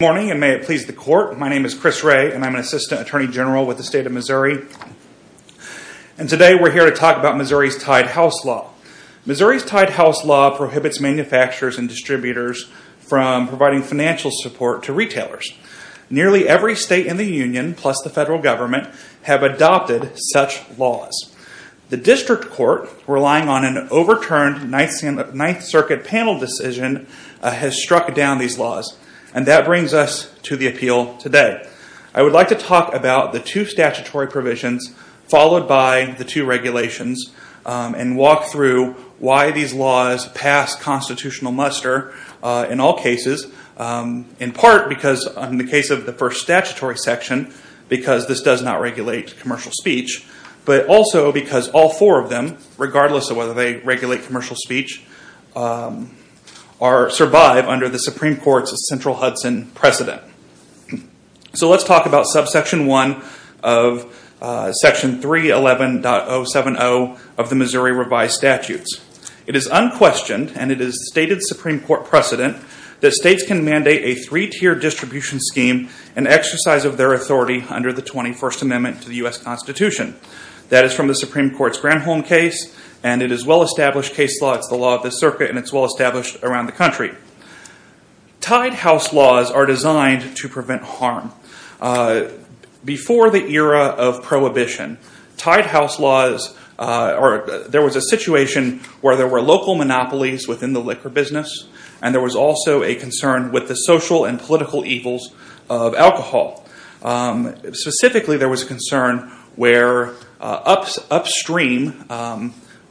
Good morning and may it please the Court, my name is Chris Wray and I'm an Assistant Attorney General with the State of Missouri. And today we're here to talk about Missouri's Tied House Law. Missouri's Tied House Law prohibits manufacturers and distributors from providing financial support to retailers. Nearly every state in the union, plus the federal government, have adopted such laws. The District Court, relying on an overturned Ninth Circuit panel decision, has struck down these laws. And that brings us to the appeal today. I would like to talk about the two statutory provisions, followed by the two regulations, and walk through why these laws pass constitutional muster in all cases. In part because in the case of the first statutory section, because this does not regulate commercial speech, but also because all four of them, regardless of whether they regulate commercial speech, survive under the Supreme Court's central Hudson precedent. So let's talk about subsection 1 of section 311.070 of the Missouri revised statutes. It is unquestioned, and it is a stated Supreme Court precedent, that states can mandate a three-tier distribution scheme and exercise of their authority under the 21st Amendment to the U.S. Constitution. That is from the Supreme Court's Granholm case, and it is well-established case law. It's the law of the circuit, and it's well-established around the country. Tied house laws are designed to prevent harm. Before the era of prohibition, tied house laws, there was a situation where there were local monopolies within the liquor business, and there was also a concern with the social and political evils of alcohol. Specifically, there was a concern where upstream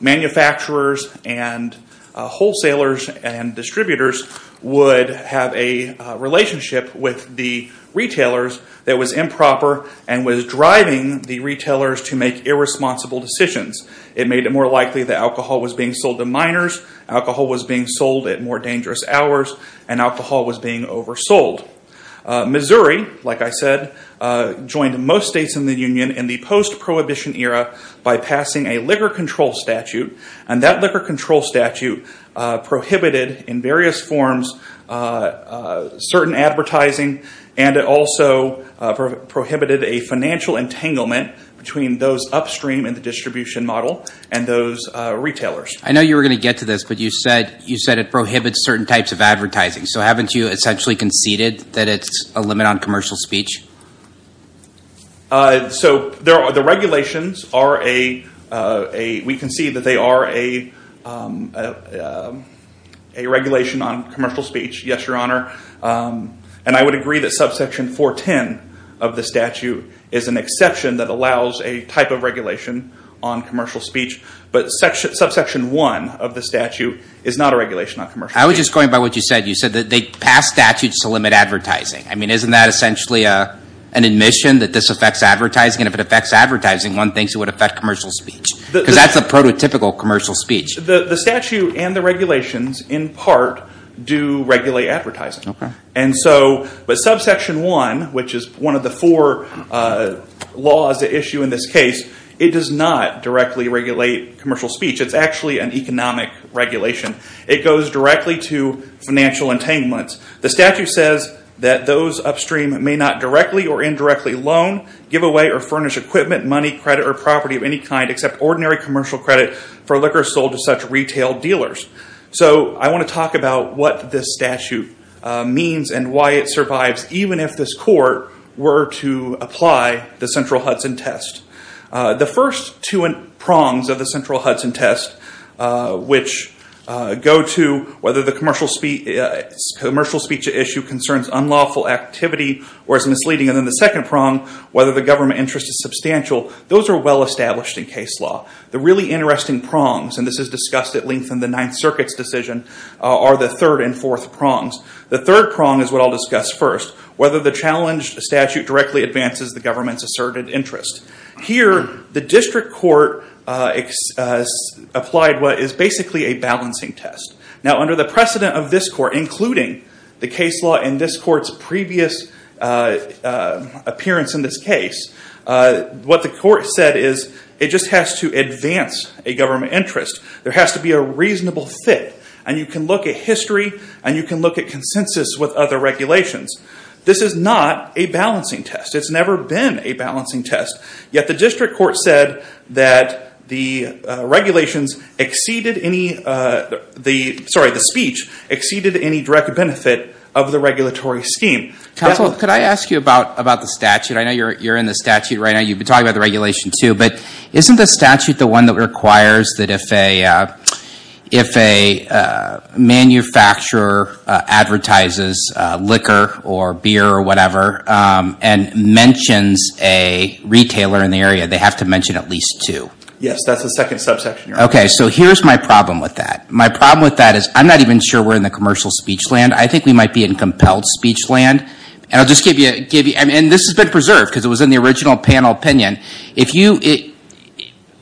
manufacturers and wholesalers and distributors would have a relationship with the retailers that was improper and was driving the retailers to make irresponsible decisions. It made it more likely that alcohol was being sold to minors, alcohol was being sold at more dangerous hours, and alcohol was being oversold. Missouri, like I said, joined most states in the Union in the post-prohibition era by passing a liquor control statute, and that liquor control statute prohibited in various forms certain advertising, and it also prohibited a financial entanglement between those upstream in the distribution model and those retailers. I know you were going to get to this, but you said it prohibits certain types of advertising, so haven't you essentially conceded that it's a limit on commercial speech? So the regulations, we concede that they are a regulation on commercial speech, yes, Your Honor, and I would agree that subsection 410 of the statute is an exception that allows a type of regulation on commercial speech, but subsection 1 of the statute is not a regulation on commercial speech. I was just going by what you said. You said that they passed statutes to limit advertising. I mean, isn't that essentially an admission that this affects advertising, and if it affects advertising, one thinks it would affect commercial speech, because that's a prototypical commercial speech. The statute and the regulations, in part, do regulate advertising, but subsection 1, which is one of the four laws at issue in this case, it does not directly regulate commercial speech. It's actually an economic regulation. It goes directly to financial entanglements. The statute says that those upstream may not directly or indirectly loan, give away, or furnish equipment, money, credit, or property of any kind except ordinary commercial credit for liquor sold to such retail dealers. So I want to talk about what this statute means and why it survives, even if this court were to apply the Central Hudson Test. The first two prongs of the Central Hudson Test, which go to whether the commercial speech at issue concerns unlawful activity or is misleading, and then the second prong, whether the government interest is substantial, those are well-established in case law. The really interesting prongs, and this is discussed at length in the Ninth Circuit's decision, are the third and fourth prongs. The third prong is what I'll discuss first, whether the challenged statute directly advances the government's asserted interest. Here, the district court applied what is basically a balancing test. Now under the precedent of this court, including the case law in this court's previous appearance in this case, what the court said is it just has to advance a government interest. There has to be a reasonable fit, and you can look at history, and you can look at consensus with other regulations. This is not a balancing test. It's never been a balancing test, yet the district court said that the regulations exceeded any, sorry, the speech exceeded any direct benefit of the regulatory scheme. Counsel, could I ask you about the statute? I know you're in the statute right now. You've been talking about the regulation too, but isn't the statute the one that requires that if a manufacturer advertises liquor, or beer, or whatever, and mentions a retailer in the area, they have to mention at least two? Yes, that's the second subsection. Okay, so here's my problem with that. My problem with that is I'm not even sure we're in the commercial speech land. I think we might be in compelled speech land, and I'll just give you, and this has been preserved because it was in the original panel opinion. If you, we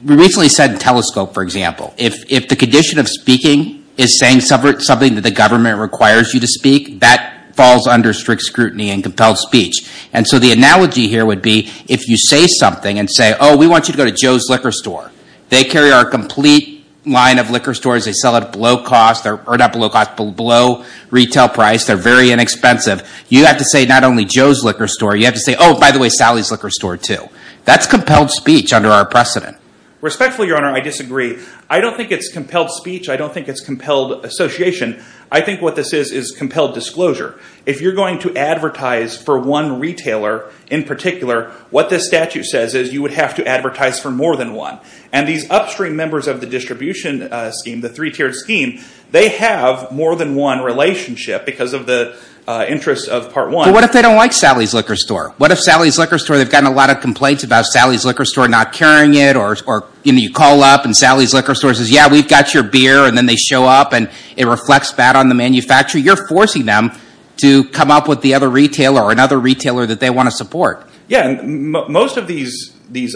recently said in Telescope, for example, if the condition of speaking is saying something that the government requires you to speak, that falls under strict scrutiny in compelled speech. And so the analogy here would be if you say something and say, oh, we want you to go to Joe's Liquor Store. They carry our complete line of liquor stores. They sell at below cost, or not below cost, below retail price. They're very inexpensive. You have to say not only Joe's Liquor Store, you have to say, oh, by the way, Sally's Liquor Store too. That's compelled speech under our precedent. Respectfully, Your Honor, I disagree. I don't think it's compelled speech. I don't think it's compelled association. I think what this is is compelled disclosure. If you're going to advertise for one retailer in particular, what this statute says is you would have to advertise for more than one. And these upstream members of the distribution scheme, the three-tiered scheme, they have more than one relationship because of the interests of part one. But what if they don't like Sally's Liquor Store? What if Sally's Liquor Store, they've gotten a lot of complaints about Sally's Liquor Store not carrying it, or you call up and Sally's Liquor Store says, yeah, we've got your beer, and then they show up, and it reflects back on the manufacturer. You're forcing them to come up with the other retailer or another retailer that they want to support. Yeah. Most of these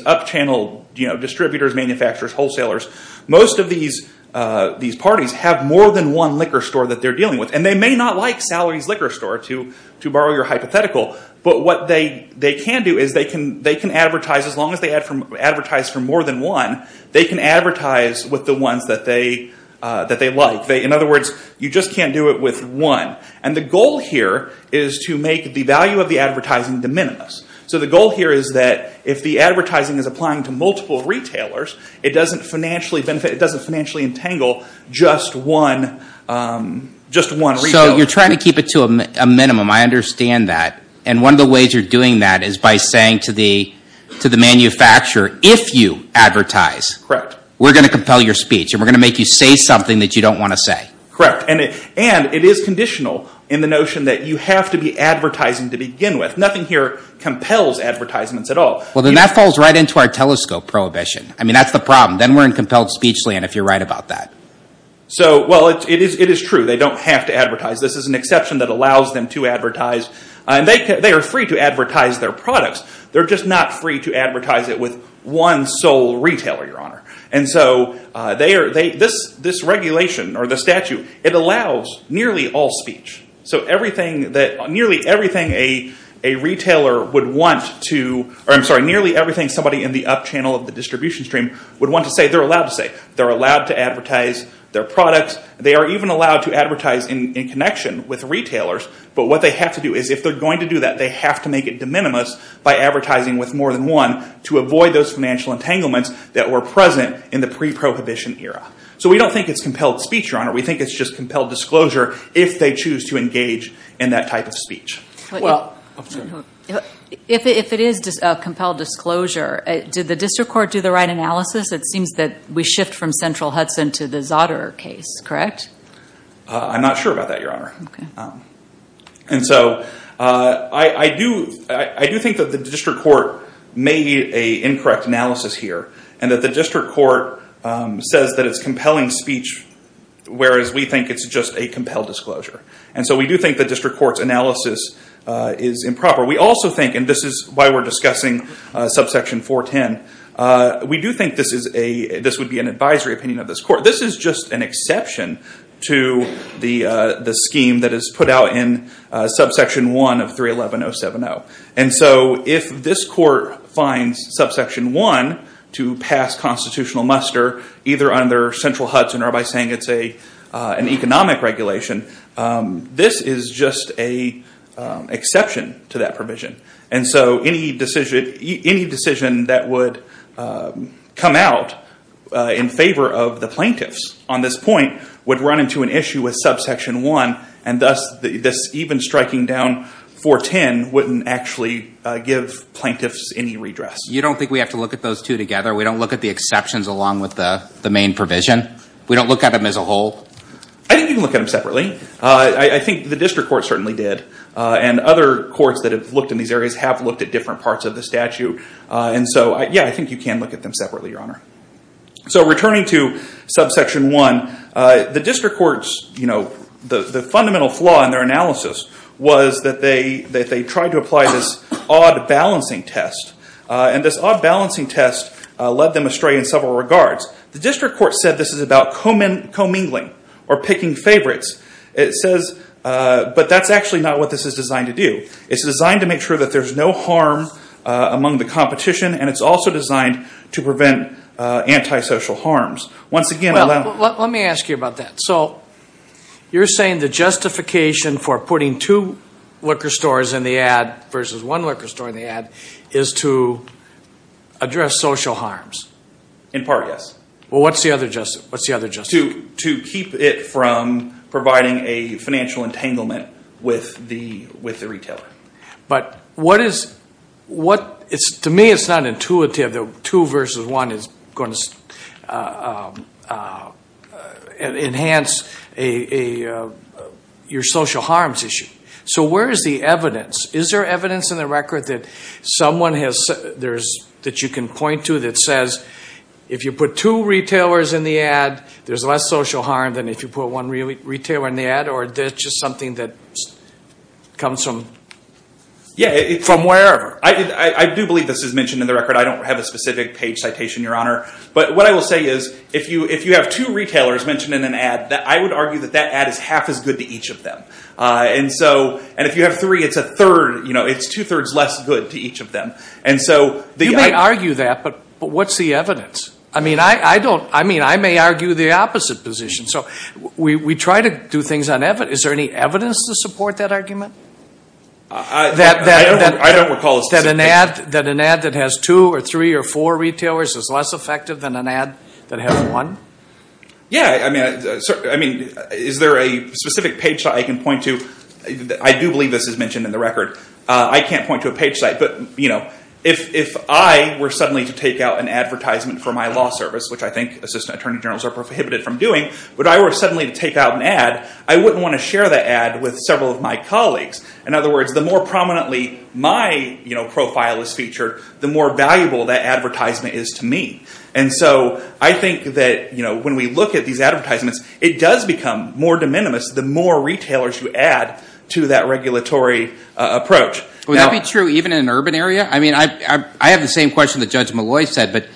up-channel distributors, manufacturers, wholesalers, most of these parties have more than one liquor store that they're dealing with. They may not like Sally's Liquor Store, to borrow your hypothetical, but what they can do is they can advertise, as long as they advertise for more than one, they can advertise with the ones that they like. In other words, you just can't do it with one. The goal here is to make the value of the advertising de minimis. The goal here is that if the advertising is applying to multiple retailers, it doesn't financially entangle just one retailer. You're trying to keep it to a minimum. I understand that. One of the ways you're doing that is by saying to the manufacturer, if you advertise, we're going to compel your speech, and we're going to make you say something that you don't want to say. Correct. It is conditional in the notion that you have to be advertising to begin with. Nothing here compels advertisements at all. Then that falls right into our telescope prohibition. That's the problem. Then we're in compelled speech land, if you're right about that. It is true. They don't have to advertise. This is an exception that allows them to advertise. They are free to advertise their products. They're just not free to advertise it with one sole retailer. This regulation, or the statute, it allows nearly all speech. They're allowed to advertise their products. They are even allowed to advertise in connection with retailers, but what they have to do is, if they're going to do that, they have to make it de minimis by advertising with more than one to avoid those financial entanglements that were present in the pre-prohibition era. We don't think it's compelled speech, Your Honor. We think it's just compelled disclosure if they choose to engage in that type of speech. Well, if it is a compelled disclosure, did the district court do the right analysis? It seems that we shift from Central Hudson to the Zotter case, correct? I'm not sure about that, Your Honor. I do think that the district court made a incorrect analysis here, and that the district court says that it's compelling speech, whereas we think it's just a compelled disclosure. We do think the district court's analysis is improper. We also think, and this is why we're discussing subsection 410, we do think this would be an advisory opinion of this court. This is just an exception to the scheme that is put out in subsection 1 of 311-070. If this court finds subsection 1 to pass constitutional muster, either under Central Hudson or by saying it's an economic regulation, this is just an exception to that provision. Any decision that would come out in favor of the plaintiffs on this point would run into an issue with subsection 1, and thus this even striking down 410 wouldn't actually give plaintiffs any redress. You don't think we have to look at those two together? We don't look at the exceptions along with the main provision? We don't look at them as a whole? I think you can look at them separately. I think the district court certainly did, and other courts that have looked in these areas have looked at different parts of the statute. And so, yeah, I think you can look at them separately, Your Honor. So returning to subsection 1, the district court's, you know, the fundamental flaw in their analysis was that they tried to apply this odd balancing test, and this odd balancing test led them astray in several regards. The district court said this is about commingling or picking favorites, but that's actually not what this is designed to do. It's designed to make sure that there's no harm among the competition, and it's also designed to prevent antisocial harms. Once again... Well, let me ask you about that. So you're saying the justification for putting two liquor stores in the ad versus one liquor store in the ad is to address social harms? In part, yes. Well, what's the other justification? What's the other justification? To keep it from providing a financial entanglement with the retailer. But what is... To me it's not intuitive that two versus one is going to enhance your social harms issue. So where is the evidence? Is there evidence in the record that you can point to that says if you put two retailers in the ad, there's less social harm than if you put one retailer in the ad? Or that's just something that comes from... Yeah, from wherever. I do believe this is mentioned in the record. I don't have a specific page citation, Your Honor. But what I will say is if you have two retailers mentioned in an ad, I would argue that that ad is half as good to each of them. And if you have three, it's two-thirds less good to each of them. And so... You may argue that, but what's the evidence? I may argue the opposite position. So we try to do things on evidence. Is there any evidence to support that argument? I don't recall a specific... That an ad that has two or three or four retailers is less effective than an ad that has one? Yeah. I mean, is there a specific page that I can point to? I do believe this is mentioned in the record. I can't point to a page site, but if I were suddenly to take out an advertisement for my law service, which I think assistant attorney generals are prohibited from doing, but I were suddenly to take out an ad, I wouldn't want to share that ad with several of my colleagues. In other words, the more prominently my profile is featured, the more valuable that advertisement is to me. And so I think that when we look at these advertisements, it does become more de minimis the more retailers you add to that regulatory approach. Would that be true even in an urban area? I mean, I have the same question that Judge Malloy said, but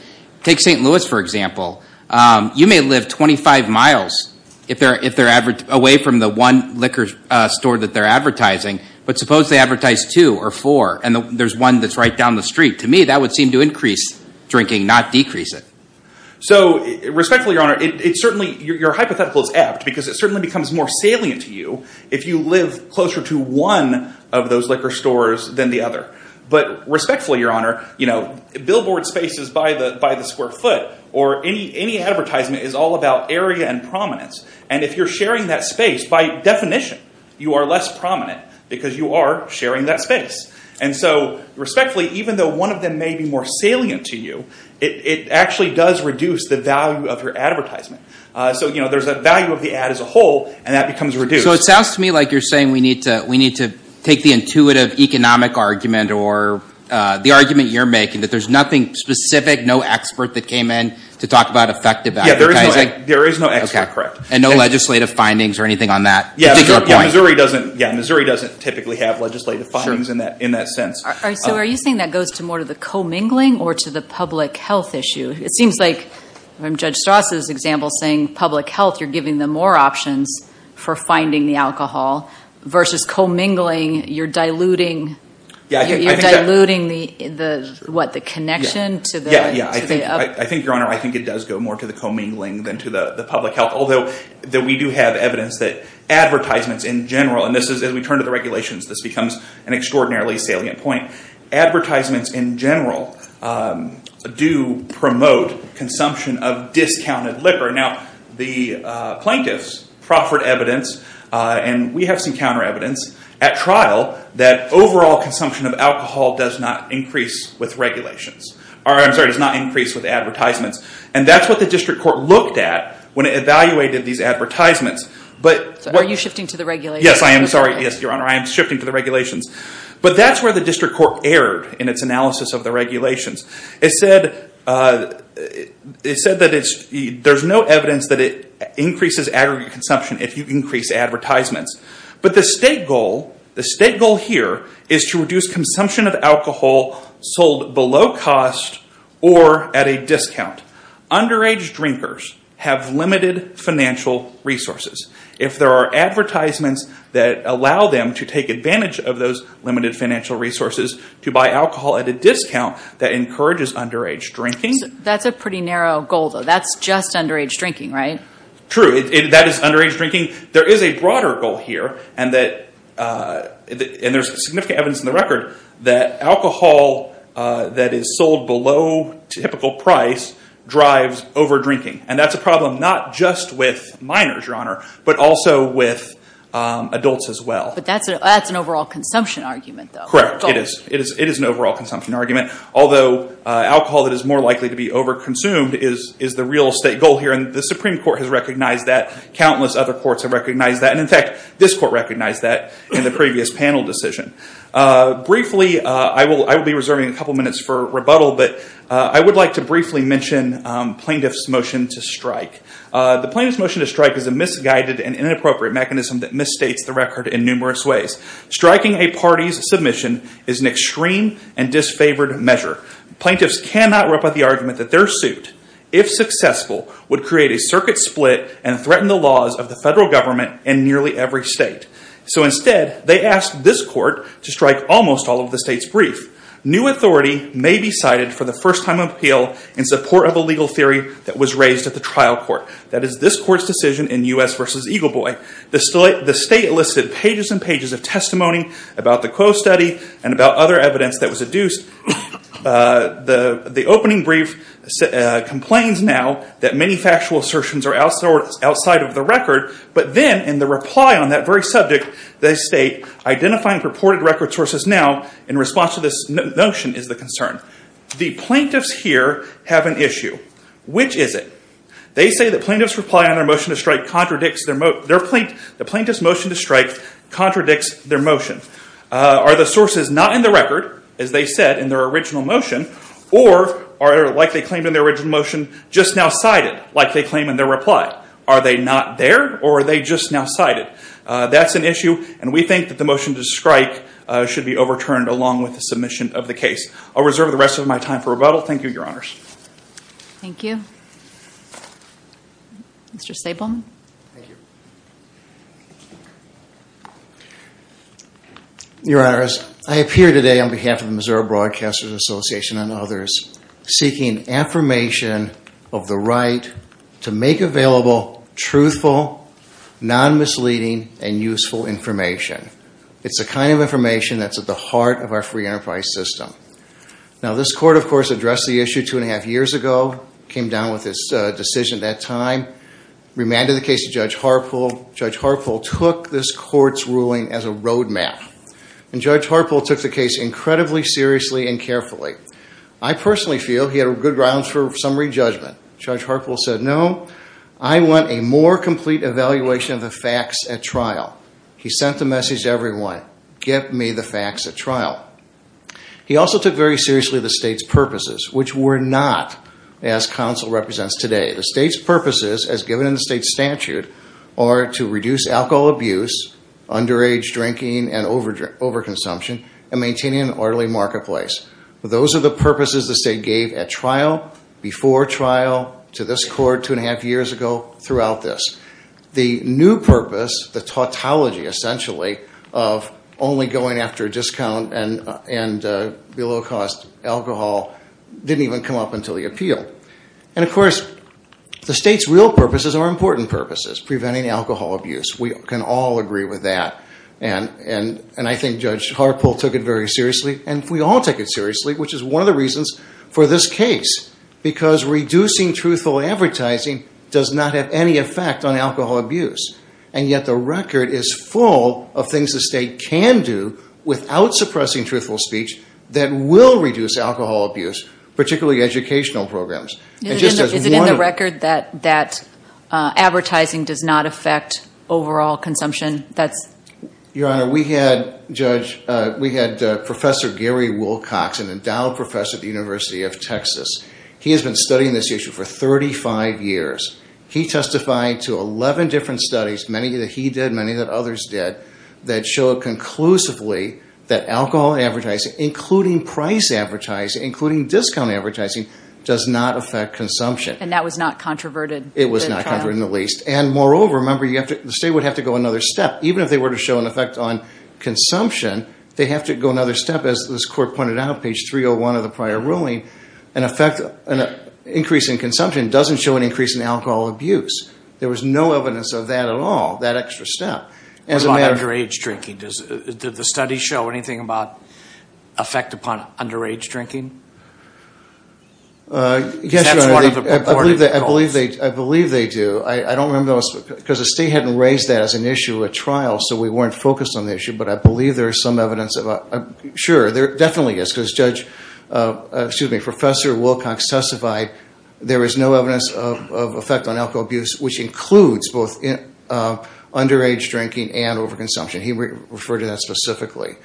take St. Louis, for example. You may live 25 miles away from the one liquor store that they're advertising, but suppose they advertise two or four, and there's one that's right down the street. To me, that would seem to increase drinking, not decrease it. So respectfully, Your Honor, your hypothetical is apt because it certainly becomes more salient to you if you live closer to one of those liquor stores than the other. But respectfully, Your Honor, billboard spaces by the square foot or any advertisement is all about area and prominence. And if you're sharing that space, by definition, you are less prominent because you are sharing that space. And so respectfully, even though one of them may be more salient to you, it actually does reduce the value of your advertisement. So there's a value of the ad as a whole, and that becomes reduced. So it sounds to me like you're saying we need to take the intuitive economic argument or the argument you're making, that there's nothing specific, no expert that came in to talk about effective advertising? Yeah, there is no expert, correct. And no legislative findings or anything on that particular point? Yeah, Missouri doesn't typically have legislative findings in that sense. So are you saying that goes to more to the commingling or to the public health issue? It seems like, from Judge Strauss's example, saying public health, you're giving them more options for finding the alcohol, versus commingling, you're diluting the connection to the upcoming. I think, Your Honor, I think it does go more to the commingling than to the public health. Although, we do have evidence that advertisements in general, and as we turn to the regulations, this becomes an extraordinarily salient point. Advertisements in general do promote consumption of discounted liquor. Now, the plaintiffs proffered evidence, and we have some counter evidence, at trial, that overall consumption of alcohol does not increase with advertisements. And that's what the district court looked at when it evaluated these advertisements. But are you shifting to the regulations? Yes, I am. Sorry. Yes, Your Honor, I am shifting to the regulations. But that's where the district court erred in its analysis of the regulations. It said that there's no evidence that it increases aggregate consumption if you increase advertisements. But the state goal, the state goal here, is to reduce consumption of alcohol sold below cost or at a discount. Underage drinkers have limited financial resources. If there are advertisements that allow them to take advantage of those limited financial resources to buy alcohol at a discount, that encourages underage drinking. That's a pretty narrow goal, though. That's just underage drinking, right? True. That is underage drinking. There is a broader goal here, and there's significant evidence in the record that alcohol that is sold below typical price drives overdrinking. And that's a problem not just with minors, Your Honor, but also with adults as well. But that's an overall consumption argument, though. Correct. It is. It is an overall consumption argument. Although, alcohol that is more likely to be overconsumed is the real state goal here. And the Supreme Court has recognized that. Countless other courts have recognized that. And in fact, this court recognized that in the previous panel decision. Briefly, I will be reserving a couple minutes for rebuttal, but I would like to briefly mention plaintiff's motion to strike. The plaintiff's motion to strike is a misguided and inappropriate mechanism that misstates the record in numerous ways. Striking a party's submission is an extreme and disfavored measure. Plaintiffs cannot rip up the argument that their suit, if successful, would create a circuit split and threaten the laws of the federal government in nearly every state. So instead, they asked this court to strike almost all of the state's brief. New authority may be cited for the first time appeal in support of a legal theory that was raised at the trial court. That is this court's decision in U.S. v. Eagle Boy. The state listed pages and pages of testimony about the Coe study and about other evidence that was adduced. The opening brief complains now that many factual assertions are outside of the record. But then, in the reply on that very subject, they state, identifying purported record sources now in response to this notion is the concern. The plaintiffs here have an issue. Which is it? They say the plaintiff's motion to strike contradicts their motion. Are the sources not in the record, as they said, in their original motion? Or are they, like they claimed in their original motion, just now cited, like they claim in their reply? Are they not there? Or are they just now cited? That's an issue. And we think that the motion to strike should be overturned along with the submission of the case. I'll reserve the rest of my time for rebuttal. Thank you, Your Honors. Thank you. Mr. Stapleman? Thank you. Your Honors, I appear today on behalf of the Missouri Broadcasters Association and others seeking affirmation of the right to make available truthful, non-misleading, and useful information. It's the kind of information that's at the heart of our free enterprise system. Now, this Court, of course, addressed the issue two and a half years ago, came down with its decision at that time, remanded the case to Judge Harpool. Judge Harpool took this Court's ruling as a roadmap. And Judge Harpool took the case incredibly seriously and carefully. I personally feel he had good grounds for summary judgment. Judge Harpool said, no, I want a more complete evaluation of the facts at trial. He sent the message to everyone, get me the facts at trial. He also took very seriously the state's purposes, which were not as counsel represents today. The state's purposes, as given in the state statute, are to reduce alcohol abuse, underage drinking and overconsumption, and maintaining an orderly marketplace. Those are the purposes the state gave at trial, before trial, to this Court two and a half years ago, throughout this. The new purpose, the tautology, essentially, of only going after discount and below cost alcohol didn't even come up until the appeal. And of course, the state's real purposes are important purposes, preventing alcohol abuse. We can all agree with that. And I think Judge Harpool took it very seriously. And we all take it seriously, which is one of the reasons for this case. Because reducing truthful advertising does not have any effect on alcohol abuse. And yet the record is full of things the state can do, without suppressing truthful speech, that will reduce alcohol abuse, particularly educational programs. And just as one- Is it in the record that advertising does not affect overall consumption? That's- Judge, we had Professor Gary Wilcox, an endowed professor at the University of Texas. He has been studying this issue for 35 years. He testified to 11 different studies, many that he did, many that others did, that show conclusively that alcohol advertising, including price advertising, including discount advertising, does not affect consumption. And that was not controverted? It was not controverted in the least. And moreover, remember, the state would have to go another step, even if they were to show an effect on consumption, they have to go another step. As this court pointed out, page 301 of the prior ruling, an effect, an increase in consumption doesn't show an increase in alcohol abuse. There was no evidence of that at all, that extra step. As a matter of- What about underage drinking? Did the study show anything about effect upon underage drinking? Yes, Your Honor, I believe they do. I don't remember, because the state hadn't raised that as an issue at trial. So we weren't focused on the issue. But I believe there is some evidence of- Sure, there definitely is, because Judge, excuse me, Professor Wilcox testified there is no evidence of effect on alcohol abuse, which includes both underage drinking and overconsumption. He referred to that specifically.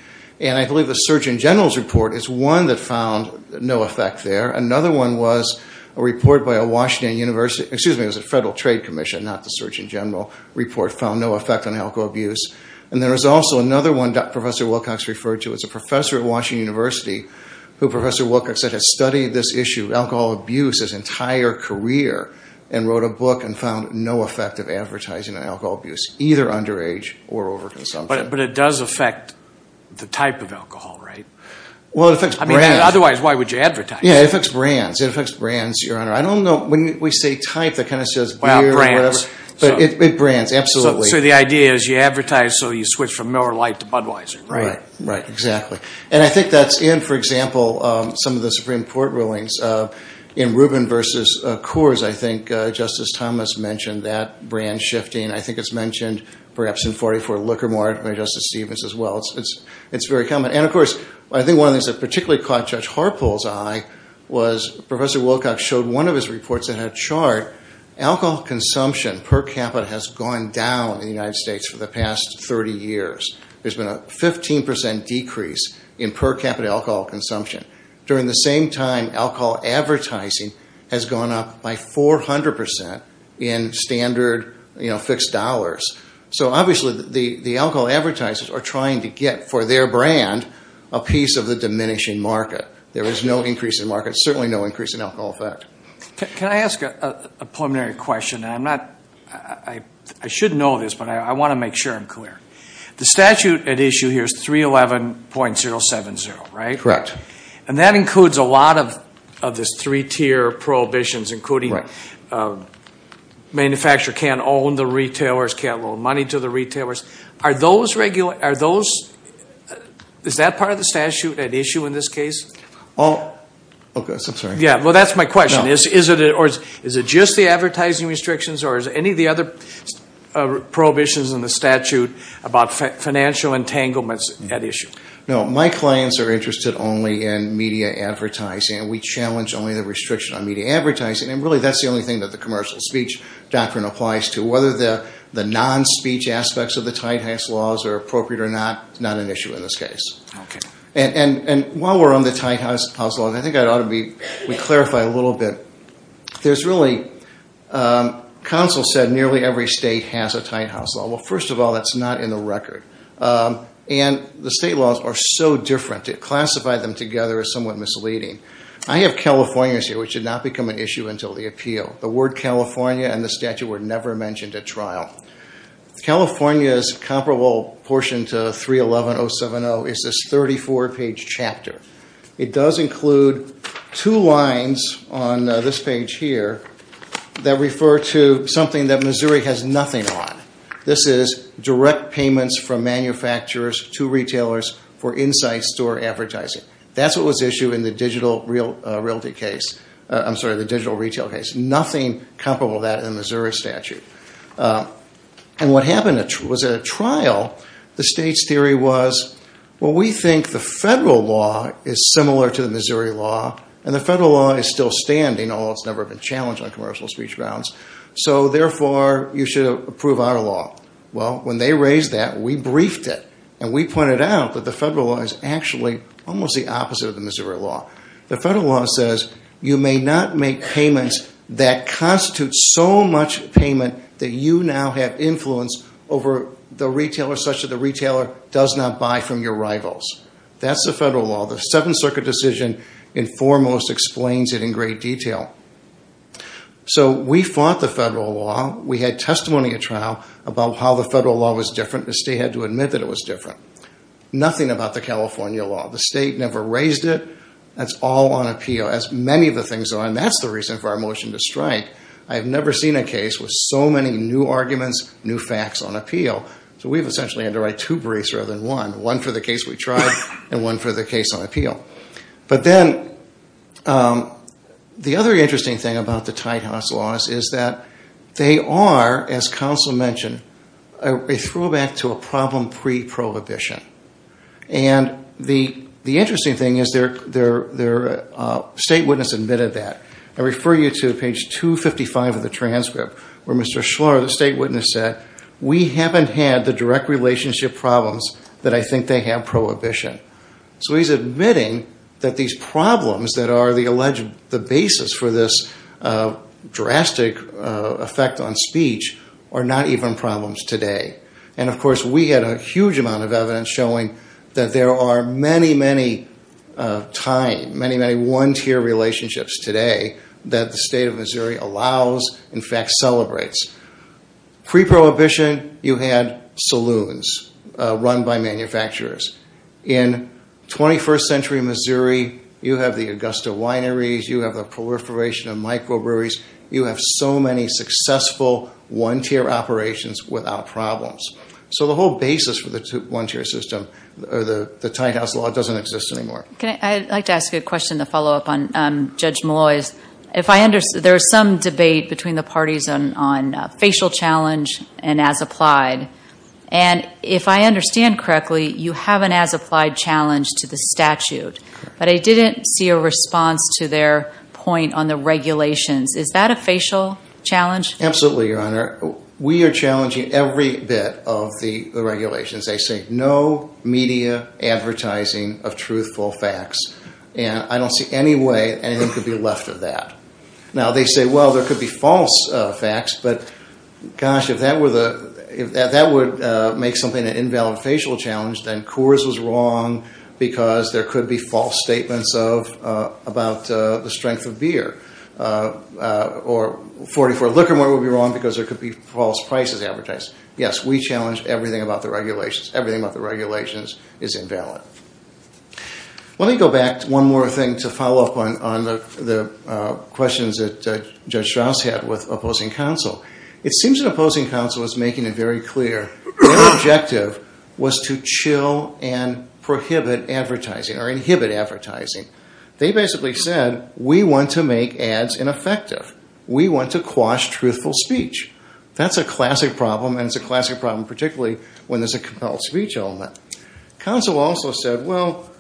And I believe the Surgeon General's report is one that found no effect there. Another one was a report by a Washington University- Excuse me, it was a Federal Trade Commission, not the Surgeon General report, found no effect on alcohol abuse. And there is also another one that Professor Wilcox referred to. It's a professor at Washington University who Professor Wilcox said has studied this issue of alcohol abuse his entire career, and wrote a book and found no effect of advertising on alcohol abuse, either underage or overconsumption. But it does affect the type of alcohol, right? Well, it affects brands. I mean, otherwise, why would you advertise? Yeah, it affects brands. It affects brands, Your Honor. I don't know, when we say type, that kind of says beer or whatever. Well, brands. But it brands, absolutely. So the idea is you advertise, so you switch from Miller Lite to Budweiser, right? Right, exactly. And I think that's in, for example, some of the Supreme Court rulings. In Rubin v. Coors, I think Justice Thomas mentioned that brand shifting. I think it's mentioned perhaps in 44 Liquor Mart by Justice Stevens as well. It's very common. And of course, I think one of the things that particularly caught Judge Harpole's eye was Professor Wilcox showed one of his reports in a chart, alcohol consumption per capita has gone down in the United States for the past 30 years. There's been a 15% decrease in per capita alcohol consumption. During the same time, alcohol advertising has gone up by 400% in standard fixed dollars. So obviously, the alcohol advertisers are trying to get for their brand a piece of the diminishing market. There is no increase in market, certainly no increase in alcohol effect. Can I ask a preliminary question? I'm not, I should know this, but I want to make sure I'm clear. The statute at issue here is 311.070, right? Correct. And that includes a lot of this three-tier prohibitions, including manufacturer can't own the retailers, can't loan money to the retailers. Are those, is that part of the statute at issue in this case? Oh, I'm sorry. Yeah, well, that's my question. Is it just the advertising restrictions or is any of the other prohibitions in the statute about financial entanglements at issue? No, my clients are interested only in media advertising. We challenge only the restriction on media advertising and really that's the only thing that the commercial speech doctrine applies to. Whether the non-speech aspects of the tight house laws are appropriate or not, not an issue in this case. And while we're on the tight house laws, I think I ought to be, we clarify a little bit. There's really, counsel said nearly every state has a tight house law. Well, first of all, that's not in the record. And the state laws are so different, to classify them together is somewhat misleading. I have California's here, which did not become an issue until the appeal. The word California and the statute were never mentioned at trial. California's comparable portion to 311-070 is this 34-page chapter. It does include two lines on this page here that refer to something that Missouri has nothing on. This is direct payments from manufacturers to retailers for inside store advertising. That's what was issued in the digital realty case, I'm sorry, the digital retail case. Nothing comparable to that in the Missouri statute. And what happened was at a trial, the state's theory was, well, we think the federal law is similar to the Missouri law, and the federal law is still standing, although it's never been challenged on commercial speech grounds. So therefore, you should approve our law. Well, when they raised that, we briefed it, and we pointed out that the federal law is actually almost the opposite of the Missouri law. The federal law says you may not make payments that constitute so much payment that you now have influence over the retailer such that the retailer does not buy from your rivals. That's the federal law. The Seventh Circuit decision, in foremost, explains it in great detail. So we fought the federal law. We had testimony at trial about how the federal law was different. The state had to admit that it was different. Nothing about the California law. The state never raised it. That's all on appeal, as many of the things are, and that's the reason for our motion to strike. I have never seen a case with so many new arguments, new facts on appeal. So we've essentially had to write two briefs rather than one, one for the case we tried and one for the case on appeal. But then the other interesting thing about the Tide House laws is that they are, as counsel mentioned, a throwback to a problem pre-prohibition. And the interesting thing is their state witness admitted that. I refer you to page 255 of the transcript where Mr. Schlar, the state witness, said, we haven't had the direct relationship problems that I think they have prohibition. So he's admitting that these problems that are the alleged basis for this drastic effect on speech are not even problems today. And of course, we had a huge amount of evidence showing that there are many, many Tide, many, many one-tier relationships today that the state of Missouri allows, in fact celebrates. Pre-prohibition, you had saloons run by manufacturers. In 21st century Missouri, you have the Augusta wineries, you have the proliferation of microbreweries, you have so many successful one-tier operations without problems. So the whole basis for the one-tier system, the Tide House law, doesn't exist anymore. I'd like to ask you a question to follow up on Judge Malloy's. There is some debate between the parties on facial challenge and as applied. And if I understand correctly, you have an as applied challenge to the statute. But I didn't see a response to their point on the regulations. Is that a facial challenge? Absolutely, Your Honor. We are challenging every bit of the regulations. They say no media advertising of truthful facts. And I don't see any way anything could be left of that. Now, they say, well, there could be false facts. But gosh, if that were the, if that would make something an invalid facial challenge, then Coors was wrong because there could be false statements of, about the strength of beer. Or 44 Liquor Mart would be wrong because there could be false prices advertised. Yes, we challenge everything about the regulations. Everything about the regulations is invalid. Let me go back to one more thing to follow up on the questions that Judge Strauss had with opposing counsel. It seems that opposing counsel is making it very clear their objective was to chill and prohibit advertising or inhibit advertising. They basically said, we want to make ads ineffective. We want to quash truthful speech. That's a classic problem. And it's a classic problem, particularly when there's a compelled speech element. Counsel also said, well,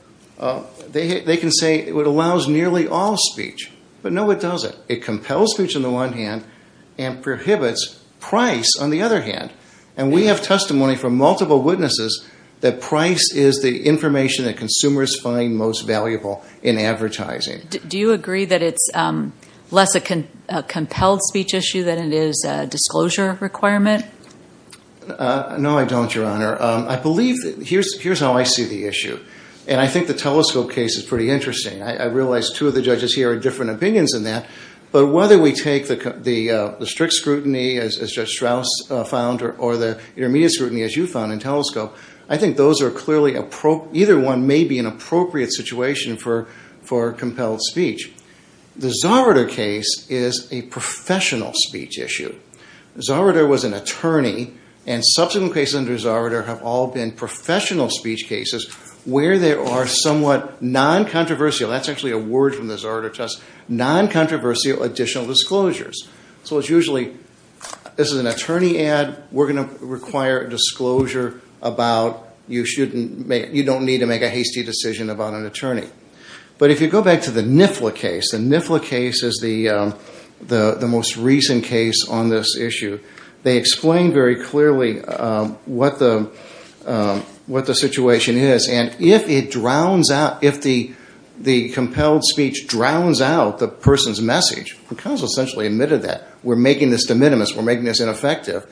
they can say it allows nearly all speech. But no, it doesn't. It compels speech on the one hand and prohibits price on the other hand. And we have testimony from multiple witnesses that price is the information that consumers find most valuable in advertising. Do you agree that it's less a compelled speech issue than it is a disclosure requirement? No, I don't, Your Honor. I believe, here's how I see the issue. And I think the telescope case is pretty interesting. I realize two of the judges here are different opinions in that. But whether we take the strict scrutiny as Judge Strauss found or the intermediate scrutiny as you found in telescope, I think those are clearly, either one may be an appropriate situation for compelled speech. The Zarater case is a professional speech issue. Zarater was an attorney. And subsequent cases under Zarater have all been professional speech cases where there are somewhat non-controversial, that's actually a word from the Zarater test, non-controversial additional disclosures. So it's usually, this is an attorney ad, we're going to require disclosure about, you don't need to make a hasty decision about an attorney. But if you go back to the NIFLA case, the NIFLA case is the most recent case on this issue. They explain very clearly what the situation is. And if it drowns out, if the compelled speech drowns out the person's message, the counsel essentially admitted that. We're making this de minimis, we're making this ineffective.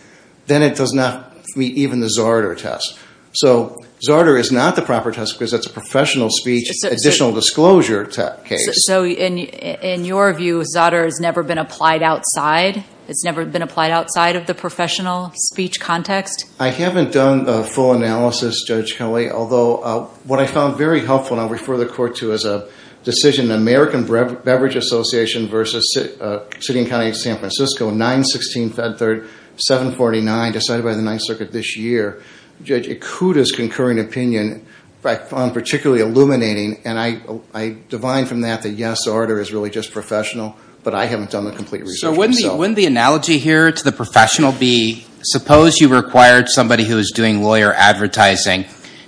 Then it does not meet even the Zarater test. So Zarater is not the proper test because it's a professional speech additional disclosure case. So in your view, Zarater has never been applied outside? It's never been applied outside of the professional speech context? I haven't done a full analysis, Judge Kelly. Although what I found very helpful, and I'll refer the court to as a decision, American Beverage Association versus City and County of San Francisco, 9-16-749, decided by the Ninth Circuit this year. Judge, it could as concurring opinion, I found particularly illuminating. And I divine from that, that yes, Zarater is really just professional. But I haven't done the complete research. So wouldn't the analogy here to the professional be, suppose you required somebody who is doing lawyer advertising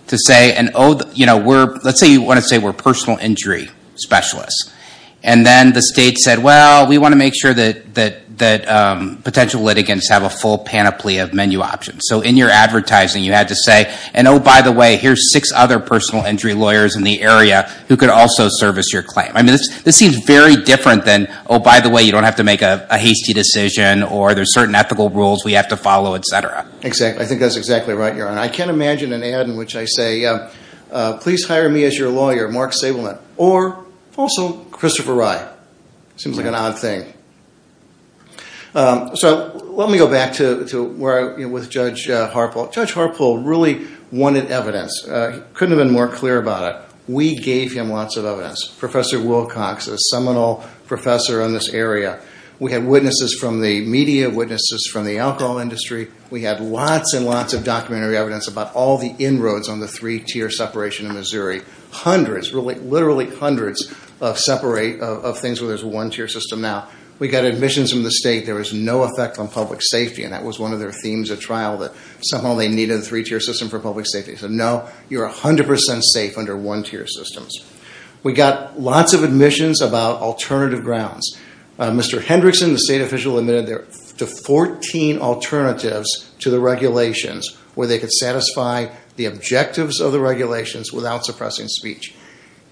to say, and let's say you want to say we're personal injury specialists. And then the state said, well, we want to make sure that potential litigants have a full panoply of menu options. So in your advertising, you had to say, and oh, by the way, here's six other personal injury lawyers in the area who could also service your claim. I mean, this seems very different than, oh, by the way, you don't have to make a hasty decision, or there's certain ethical rules we have to follow, et cetera. Exactly. I think that's exactly right, Your Honor. I can't imagine an ad in which I say, please hire me as your lawyer, Mark Sableman, or also Christopher Rye. Seems like an odd thing. So let me go back to where I was with Judge Harpole. Judge Harpole really wanted evidence. Couldn't have been more clear about it. We gave him lots of evidence. Professor Wilcox, a seminal professor in this area. We had witnesses from the media, witnesses from the alcohol industry. We had lots and lots of documentary evidence about all the inroads on the three-tier separation in Missouri. Hundreds, literally hundreds, of things where there's a one-tier system now. We got admissions from the state. There was no effect on public safety, and that was one of their themes at trial, that somehow they needed a three-tier system for public safety. He said, no, you're 100% safe under one-tier systems. We got lots of admissions about alternative grounds. Mr. Hendrickson, the state official, admitted to 14 alternatives to the regulations where they could satisfy the objectives of the regulations without suppressing speech.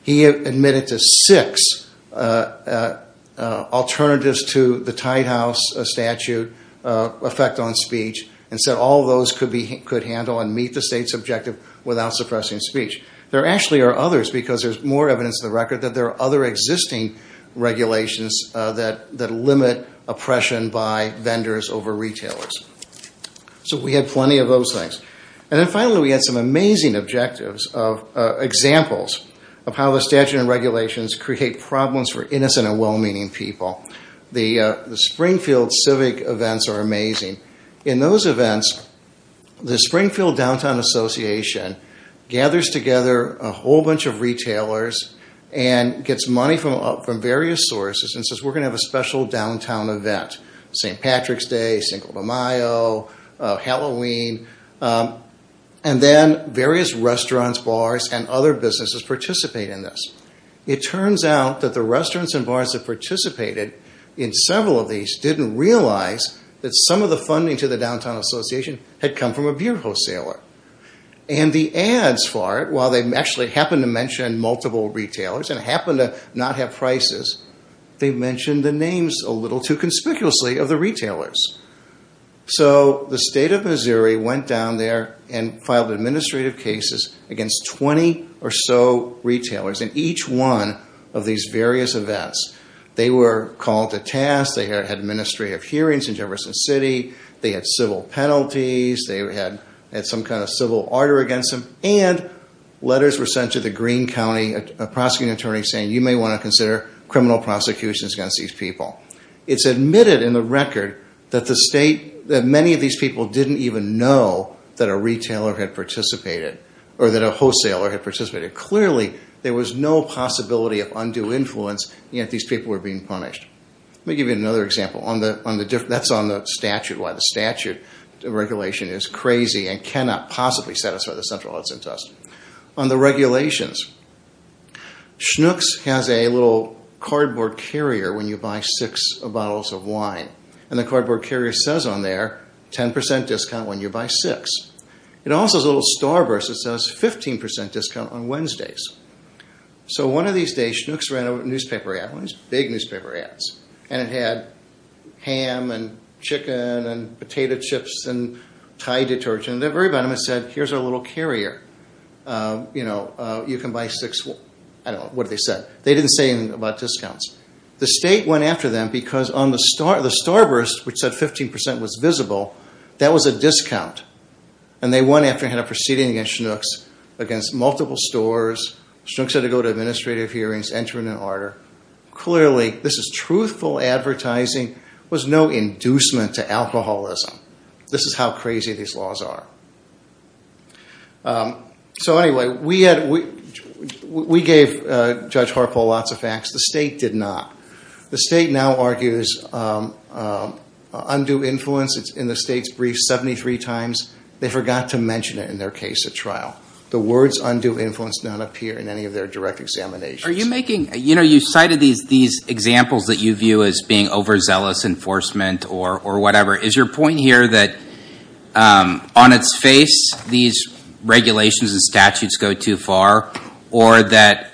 He admitted to six alternatives to the Tidehouse statute effect on speech and said all those could handle and meet the state's objective without suppressing speech. There actually are others because there's more evidence in the record that there are other existing regulations that limit oppression by vendors over retailers. So we had plenty of those things. And then finally, we had some amazing objectives of examples of how the statute and regulations create problems for innocent and well-meaning people. The Springfield Civic events are amazing. In those events, the Springfield Downtown Association gathers together a whole bunch of retailers and gets money from various sources and says, we're going to have a special downtown event, St. Patrick's Day, Cinco de Mayo, Halloween, and then various restaurants, bars, and other businesses participate in this. It turns out that the restaurants and bars that participated in several of these didn't realize that some of the funding to the Downtown Association had come from a beer wholesaler. And the ads for it, while they actually happened to mention multiple retailers and happened to not have prices, they mentioned the names a little too conspicuously of the retailers. So the state of Missouri went down there and filed administrative cases against 20 or so retailers in each one of these various events. They were called to task. They had administrative hearings in Jefferson City. They had civil penalties. They had some kind of civil order against them. And letters were sent to the Greene County prosecuting attorney saying you may want to consider criminal prosecutions against these people. It's admitted in the record that many of these people didn't even know that a retailer had participated or that a wholesaler had participated. Clearly, there was no possibility of undue influence if these people were being punished. Let me give you another example. That's on the statute, why the statute regulation is crazy and cannot possibly satisfy the Central Outset Test. On the regulations, Schnucks has a little cardboard carrier when you buy six bottles of wine. And the cardboard carrier says on there, 10% discount when you buy six. It also has a little starburst that says 15% discount on Wednesdays. So one of these days, Schnucks ran a newspaper ad. One of these big newspaper ads. And it had ham and chicken and potato chips and Thai detergent. And at the very bottom, it said, here's our little carrier. You can buy six, I don't know, what did they say? They didn't say anything about discounts. The state went after them because on the starburst, which said 15% was visible, that was a discount. And they went after and had a proceeding against Schnucks against multiple stores. Schnucks had to go to administrative hearings, enter in an order. Clearly, this is truthful advertising, was no inducement to alcoholism. This is how crazy these laws are. So anyway, we gave Judge Harpo lots of facts. The state did not. The state now argues undue influence. It's in the state's brief 73 times. They forgot to mention it in their case at trial. The words undue influence did not appear in any of their direct examinations. Are you making, you know, you cited these examples that you view as being overzealous enforcement or whatever. Is your point here that on its face, these regulations and statutes go too far, or that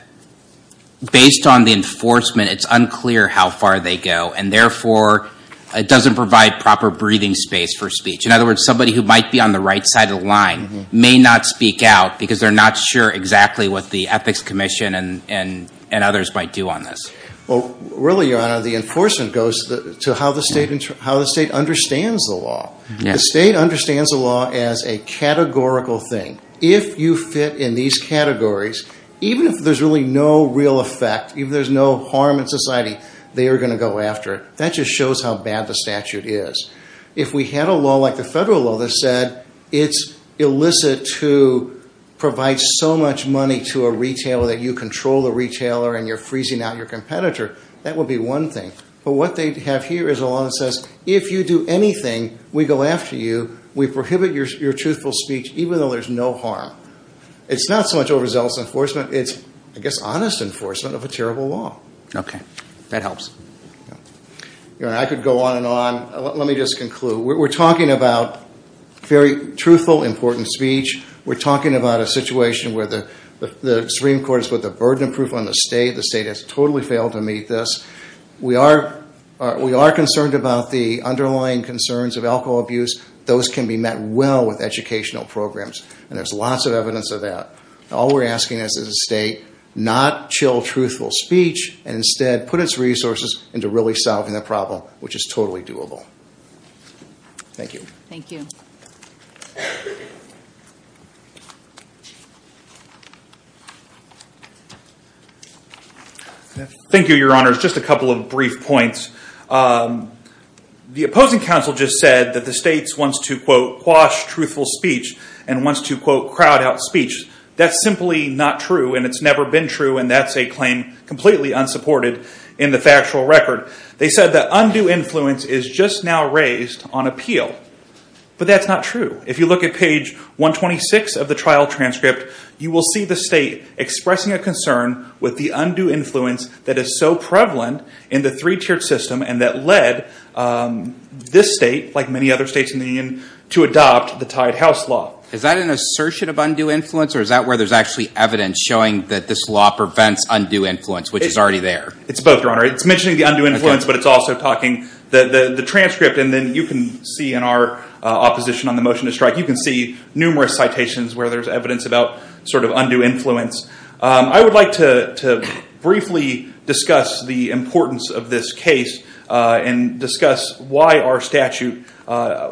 based on the enforcement, it's unclear how far they go, and therefore, it doesn't provide proper breathing space for speech? In other words, somebody who might be on the right side of the line may not speak out because they're not sure exactly what the Ethics Commission and others might do on this. Well, really, Your Honor, the enforcement goes to how the state understands the law. The state understands the law as a categorical thing. If you fit in these categories, even if there's really no real effect, even if there's no harm in society, they are gonna go after it. That just shows how bad the statute is. If we had a law like the federal law that said it's illicit to provide so much money to a retailer that you control the retailer and you're freezing out your competitor, that would be one thing. But what they have here is a law that says, if you do anything, we go after you. We prohibit your truthful speech, even though there's no harm. It's not so much overzealous enforcement. It's, I guess, honest enforcement of a terrible law. Okay, that helps. Your Honor, I could go on and on. Let me just conclude. We're talking about very truthful, important speech. We're talking about a situation where the Supreme Court has put the burden of proof on the state. The state has totally failed to meet this. We are concerned about the underlying concerns of alcohol abuse. Those can be met well with educational programs, and there's lots of evidence of that. All we're asking is that the state not chill truthful speech, and instead put its resources into really solving the problem, which is totally doable. Thank you. Thank you. Thank you, Your Honor. Just a couple of brief points. The opposing counsel just said that the state wants to, quote, quash truthful speech, and wants to, quote, crowd out speech. That's simply not true, and it's never been true, and that's a claim completely unsupported in the factual record. They said that undue influence is just now raised on appeal, but that's not true. If you look at page 126 of the trial transcript, you will see the state expressing a concern with the undue influence that is so prevalent in the three-tiered system, and that led this state, like many other states in the union, to adopt the Tide House Law. Is that an assertion of undue influence, or is that where there's actually evidence showing that this law prevents undue influence, which is already there? It's both, Your Honor. It's mentioning the undue influence, but it's also talking the transcript, and then you can see in our opposition on the motion to strike, you can see numerous citations where there's evidence about sort of undue influence. I would like to briefly discuss the importance of this case, and discuss why our statute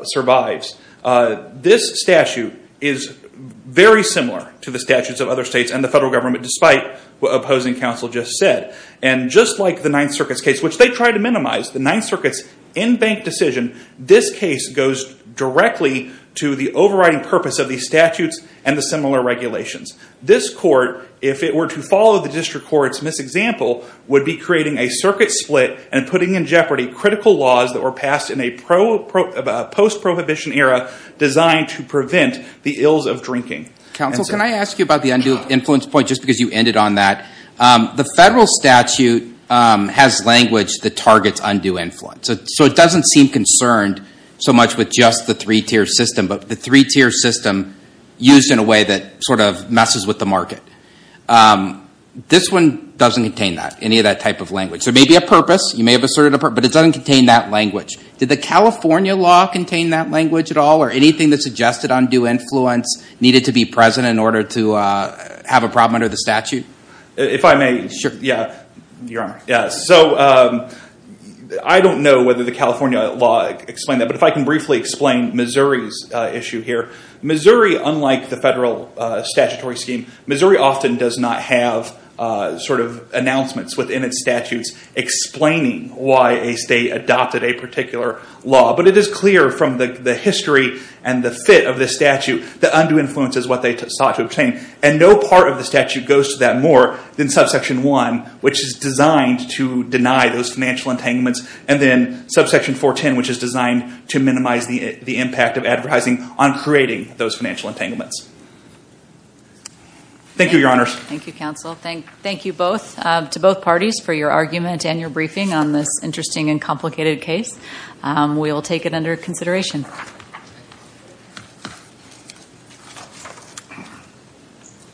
survives. This statute is very similar to the statutes of other states and the federal government, despite what opposing counsel just said, and just like the Ninth Circuit's case, which they tried to minimize, the Ninth Circuit's in-bank decision, this case goes directly to the overriding purpose of these statutes and the similar regulations. This court, if it were to follow the district court's misexample, would be creating a circuit split and putting in jeopardy critical laws that were passed in a post-prohibition era designed to prevent the ills of drinking. Counsel, can I ask you about the undue influence point, just because you ended on that? The federal statute has language that targets undue influence, so it doesn't seem concerned so much with just the three-tier system, but the three-tier system used in a way that sort of messes with the market. This one doesn't contain that, any of that type of language. So it may be a purpose, you may have asserted a purpose, but it doesn't contain that language. Did the California law contain that language at all, or anything that suggested undue influence needed to be present in order to have a problem under the statute? If I may shift, yeah, Your Honor. So I don't know whether the California law explained that, but if I can briefly explain Missouri's issue here. Missouri, unlike the federal statutory scheme, Missouri often does not have sort of announcements within its statutes explaining why a state adopted a particular law, but it is clear from the history and the fit of the statute that undue influence is what they sought to obtain, and no part of the statute goes to that more than subsection one, which is designed to deny those financial entanglements, and then subsection 410, which is designed to minimize the impact of advertising on creating those financial entanglements. Thank you, Your Honors. Thank you, Counsel. Thank you both, to both parties, for your argument and your briefing on this interesting and complicated case. We will take it under consideration. Thank you.